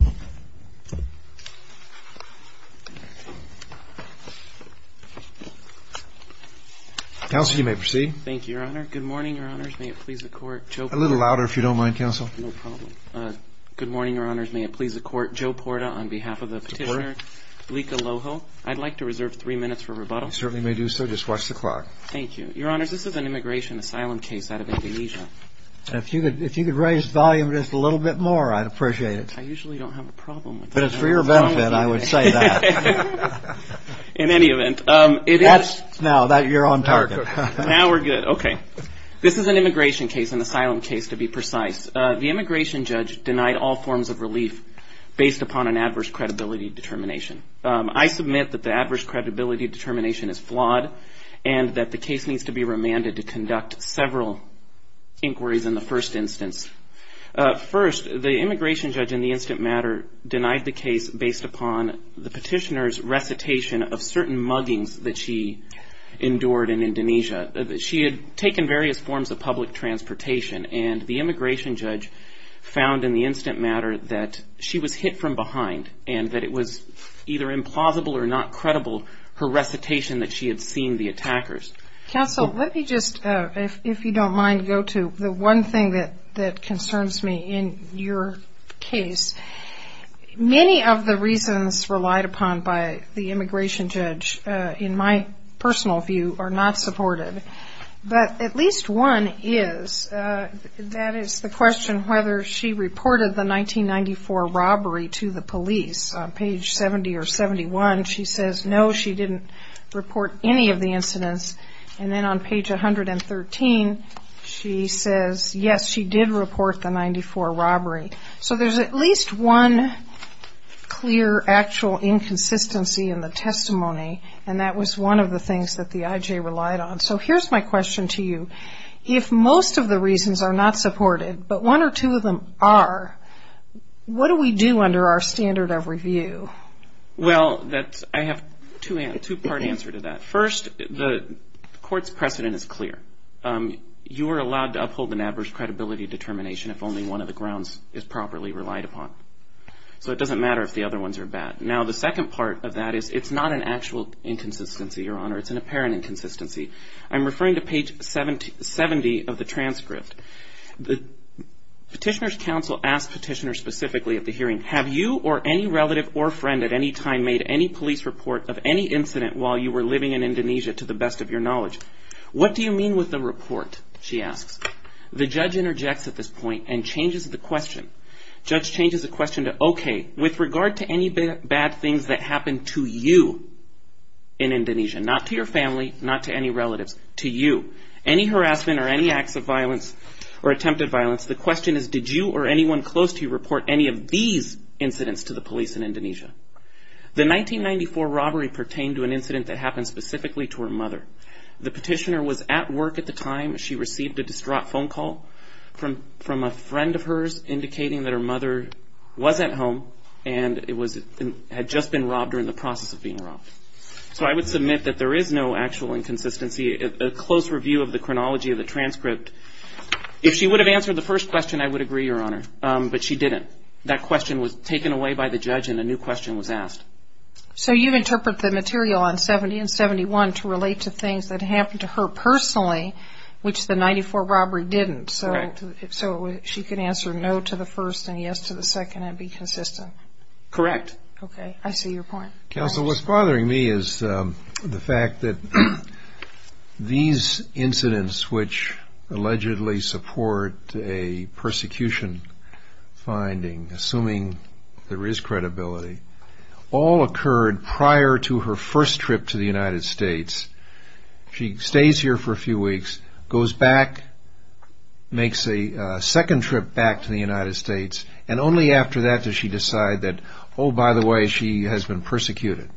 Good morning, Your Honors. May it please the Court, Joe Porta, on behalf of the petitioner, Blika Loho. I'd like to reserve three minutes for rebuttal. You certainly may do so. Just watch the clock. Thank you. Your Honors, this is an immigration asylum case out of Indonesia. If you could raise the volume just a little bit more, I'd appreciate it. I usually don't have a problem with that. But it's for your benefit, I would say that. In any event, it is. Now that you're on target. Now we're good. Okay. This is an immigration case, an asylum case, to be precise. The immigration judge denied all forms of relief based upon an adverse credibility determination. I submit that the adverse credibility determination is flawed and that the case needs to be remanded to conduct several inquiries in the first instance. First, the immigration judge in the instant matter denied the case based upon the petitioner's recitation of certain muggings that she endured in Indonesia. She had taken various forms of public transportation. And the immigration judge found in the instant matter that she was hit from behind and that it was either implausible or not credible, her recitation, that she had seen the attackers. Counsel, let me just, if you don't mind, go to the one thing that concerns me in your case. Many of the reasons relied upon by the immigration judge, in my personal view, are not supported. But at least one is, that is the question whether she reported the 1994 robbery to the police. On page 70 or 71, she says no, she didn't report any of the incidents. And then on page 113, she says yes, she did report the 94 robbery. So there's at least one clear, actual inconsistency in the testimony. And that was one of the things that the IJ relied on. So here's my question to you. If most of the reasons are not supported, but one or two of them are, what do we do under our standard of review? Well, I have a two-part answer to that. First, the court's precedent is clear. You are allowed to uphold an adverse credibility determination if only one of the grounds is properly relied upon. So it doesn't matter if the other ones are bad. Now, the second part of that is it's not an actual inconsistency, Your Honor. It's an apparent inconsistency. I'm referring to page 70 of the transcript. The petitioner's counsel asked petitioner specifically at the hearing, have you or any relative or friend at any time made any police report of any incident while you were living in Indonesia to the best of your knowledge? What do you mean with the report, she asks. The judge interjects at this point and changes the question. Judge changes the question to, okay, with regard to any bad things that happened to you in Indonesia, not to your family, not to any relatives, to you, any harassment or any acts of violence or attempted violence, the question is, did you or anyone close to you report any of these incidents to the police in Indonesia? The 1994 robbery pertained to an incident that happened specifically to her mother. The petitioner was at work at the time. She received a distraught phone call from a friend of hers indicating that her mother was at home and had just been robbed or in the process of being robbed. So I would submit that there is no actual inconsistency. A close review of the chronology of the transcript, if she would have answered the first question, I would agree, Your Honor, but she didn't. That question was taken away by the judge and a new question was asked. So you interpret the material on 70 and 71 to relate to things that happened to her personally, which the 94 robbery didn't, so she can answer no to the first and yes to the second and be consistent? Correct. Okay, I see your point. Counsel, what's bothering me is the fact that these incidents, which allegedly support a persecution finding, assuming there is credibility, all occurred prior to her first trip to the United States. She stays here for a few weeks, goes back, makes a second trip back to the United States, and only after that does she decide that, oh, by the way, she has been persecuted.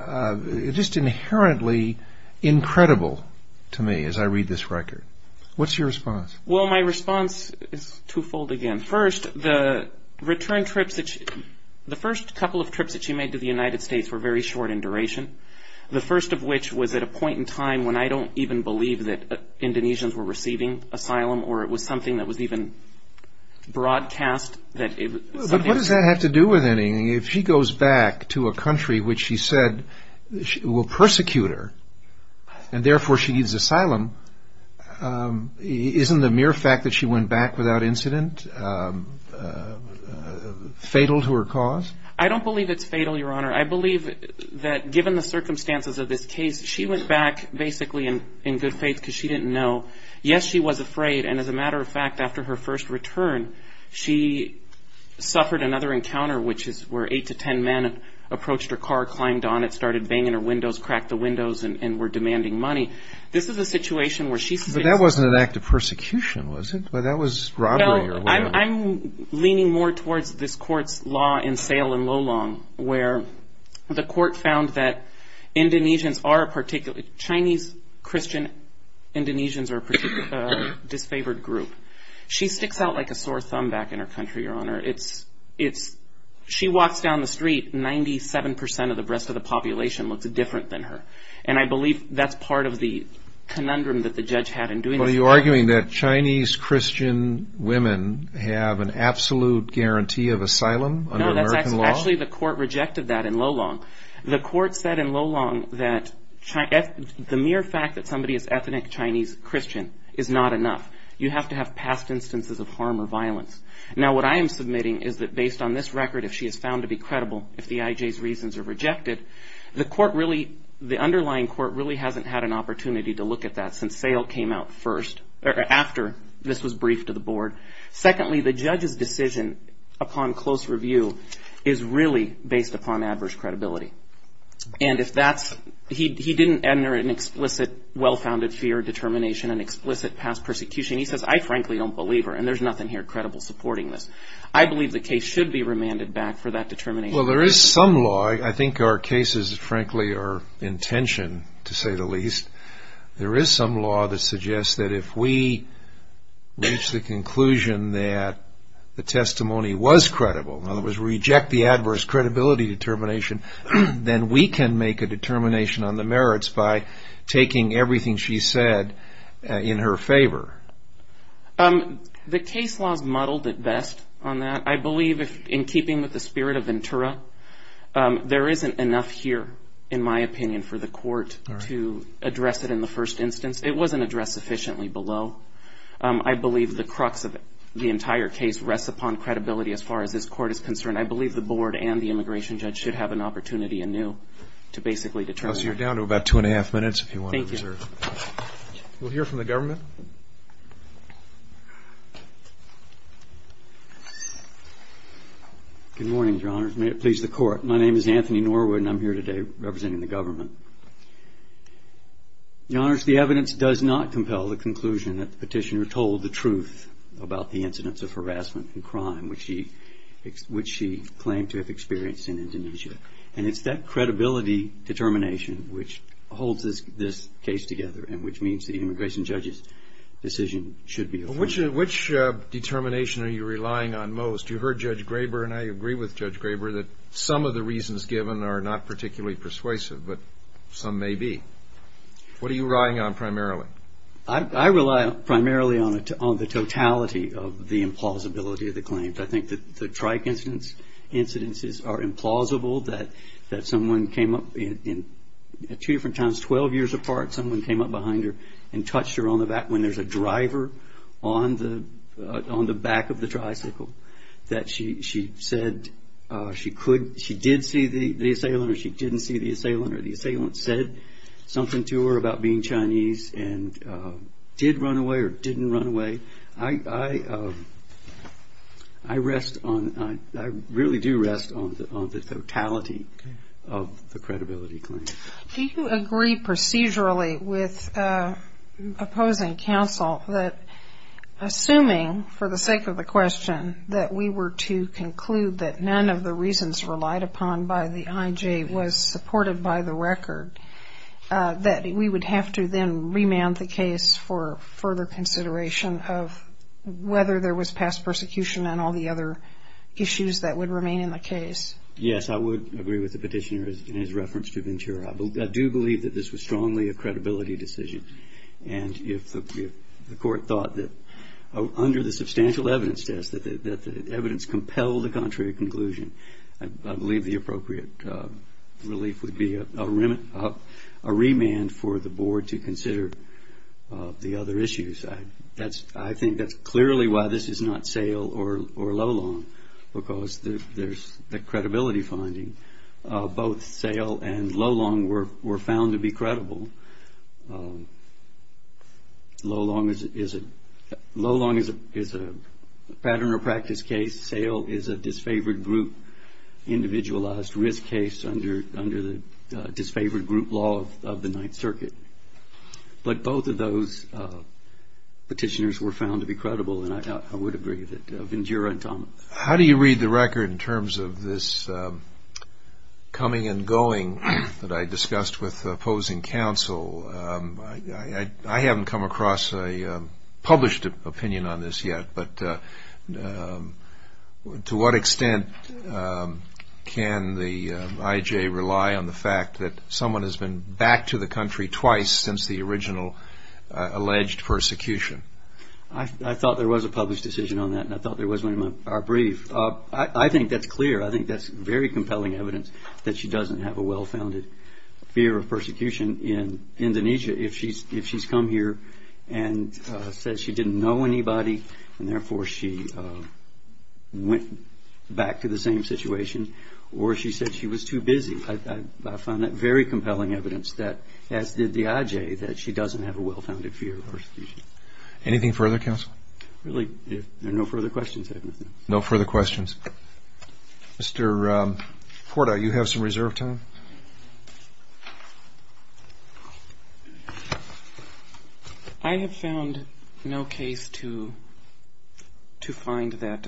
Just inherently incredible to me as I read this record. What's your response? Well, my response is twofold again. First, the return trips, the first couple of trips that she made to the United States were very short in duration. The first of which was at a point in time when I don't even believe that Indonesians were receiving asylum or it was something that was even broadcast. But what does that have to do with anything? If she goes back to a country which she said will persecute her and therefore she needs asylum, isn't the mere fact that she went back without incident fatal to her cause? I don't believe it's fatal, Your Honor. I believe that given the circumstances of this case, she went back basically in good faith because she didn't know. Yes, she was afraid. And as a matter of fact, after her first return, she suffered another encounter, which is where eight to ten men approached her car, climbed on it, started banging her windows, cracked the windows, and were demanding money. This is a situation where she's facing- But that wasn't an act of persecution, was it? That was robbery or whatever. I'm leaning more towards this court's law in Sale and Lolong, where the court found that Chinese Christian Indonesians are a particularly disfavored group. She sticks out like a sore thumb back in her country, Your Honor. She walks down the street, 97% of the rest of the population looks different than her. And I believe that's part of the conundrum that the judge had in doing this- Are you arguing that Chinese Christian women have an absolute guarantee of asylum under American law? No, actually the court rejected that in Lolong. The court said in Lolong that the mere fact that somebody is ethnic Chinese Christian is not enough. You have to have past instances of harm or violence. Now, what I am submitting is that based on this record, if she is found to be credible, if the IJ's reasons are rejected, the underlying court really hasn't had an opportunity to look at that since Sale came out first, or after this was briefed to the board. Secondly, the judge's decision upon close review is really based upon adverse credibility. And if that's- he didn't enter an explicit well-founded fear determination, an explicit past persecution. He says, I frankly don't believe her, and there's nothing here credible supporting this. I believe the case should be remanded back for that determination. Well, there is some law. I think our cases, frankly, are intention, to say the least. There is some law that suggests that if we reach the conclusion that the testimony was credible, in other words, reject the adverse credibility determination, then we can make a determination on the merits by taking everything she said in her favor. The case law is muddled at best on that. I believe in keeping with the spirit of Ventura, there isn't enough here, in my opinion, for the court to address it in the first instance. It wasn't addressed sufficiently below. I believe the crux of the entire case rests upon credibility as far as this court is concerned. I believe the board and the immigration judge should have an opportunity anew to basically determine. So you're down to about two and a half minutes, if you want to reserve. Thank you. We'll hear from the government. Good morning, Your Honors. May it please the court. My name is Anthony Norwood, and I'm here today representing the government. Your Honors, the evidence does not compel the conclusion that the petitioner told the truth about the incidents of harassment and crime, which she claimed to have experienced in Indonesia. And it's that credibility determination which holds this case together and which means the immigration judge's decision should be affirmed. Which determination are you relying on most? You heard Judge Graber, and I agree with Judge Graber, that some of the reasons given are not particularly persuasive, but some may be. What are you relying on primarily? I rely primarily on the totality of the implausibility of the claims. I think that the trike incidents are implausible, that someone came up in two different times, 12 years apart, someone came up behind her and touched her on the back of the tricycle, that she said she could, she did see the assailant or she didn't see the assailant, or the assailant said something to her about being Chinese and did run away or didn't run away. I rest on, I really do rest on the totality of the credibility claim. Do you agree procedurally with opposing counsel that assuming, for the sake of the question, that we were to conclude that none of the reasons relied upon by the IJ was supported by the record, that we would have to then remand the case for further consideration of whether there was past persecution and all the other issues that would remain in the case? Yes, I would agree with the petitioner in his reference to Ventura. I do believe that this was strongly a credibility decision and if the court thought that under the substantial evidence test that the evidence compelled the contrary conclusion, I believe the appropriate relief would be a remand for the board to consider the other issues. I think that's clearly why this is not Sayle or Lolong, because there's the credibility finding. Both Sayle and Lolong were found to be credible. Lolong is a pattern or practice case. Sayle is a disfavored group, individualized risk case under the disfavored group law of the Ninth Circuit, but both of those petitioners were found to be credible and I would agree with Ventura and Thomas. How do you read the record in terms of this coming and going that I discussed with opposing counsel? I haven't come across a published opinion on this yet, but to what extent can the IJ rely on the fact that someone has been back to the country twice since the original alleged persecution? I thought there was a published decision on that and I thought there was one in our brief. I think that's clear. I think that's very compelling evidence that she doesn't have a well-founded fear of persecution in Indonesia. If she's come here and says she didn't know anybody and therefore she went back to the same situation or she said she was too busy, I found that very compelling evidence that as did the IJ, that she doesn't have a well-founded fear of persecution. Anything further, counsel? Really, if there are no further questions, I have nothing. No further questions. Mr. Porta, you have some reserve time. I have found no case to find that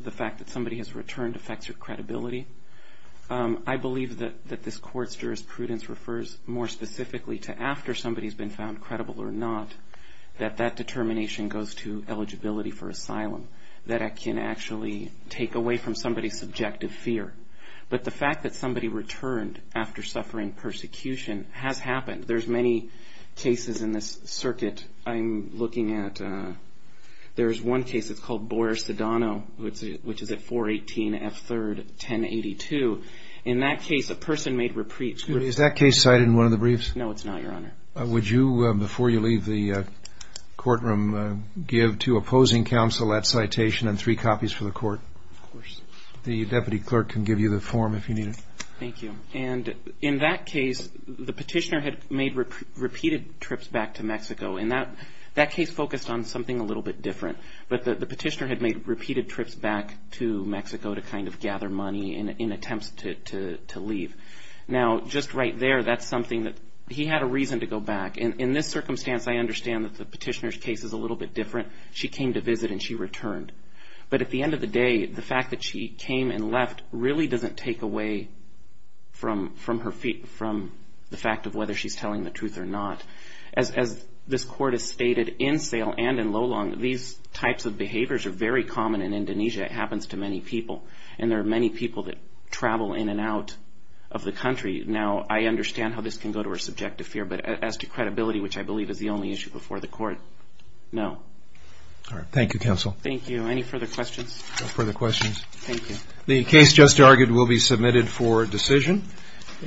the fact that somebody has returned affects your credibility. I believe that this court's jurisprudence refers more specifically to after somebody has been found credible or not, that that determination goes to eligibility for asylum, that it can actually take away from somebody's subjective fear. But the fact that somebody returned after suffering persecution has happened. There's many cases in this circuit I'm looking at. There's one case that's called Boyer-Sedano, which is at 418 F. 3rd, 1082. In that case, a person made reprieve. Excuse me, is that case cited in one of the briefs? No, it's not, Your Honor. Would you, before you leave the courtroom, give to opposing counsel that citation and three copies for the court? Of course. The deputy clerk can give you the form if you need it. Thank you. And in that case, the petitioner had made repeated trips back to Mexico. And that case focused on something a little bit different. But the petitioner had made repeated trips back to Mexico to kind of gather money in attempts to leave. Now, just right there, that's something that he had a reason to go back. In this circumstance, I understand that the petitioner's case is a little bit different. She came to visit and she returned. But at the end of the day, the fact that she came and left really doesn't take away from the fact of whether she's telling the truth or not. As this court has stated in Sale and in Lolong, these types of behaviors are very common in Indonesia. It happens to many people. And there are many people that travel in and out of the country. Now, I understand how this can go to her subjective fear. But as to credibility, which I believe is the only issue before the court, no. All right. Thank you, counsel. Thank you. Any further questions? Further questions? Thank you. The case just argued will be submitted for decision.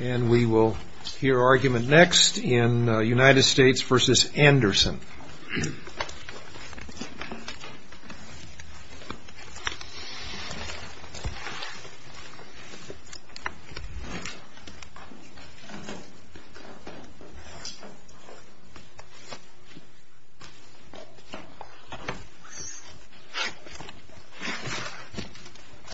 And we will hear argument next in United States versus Anderson.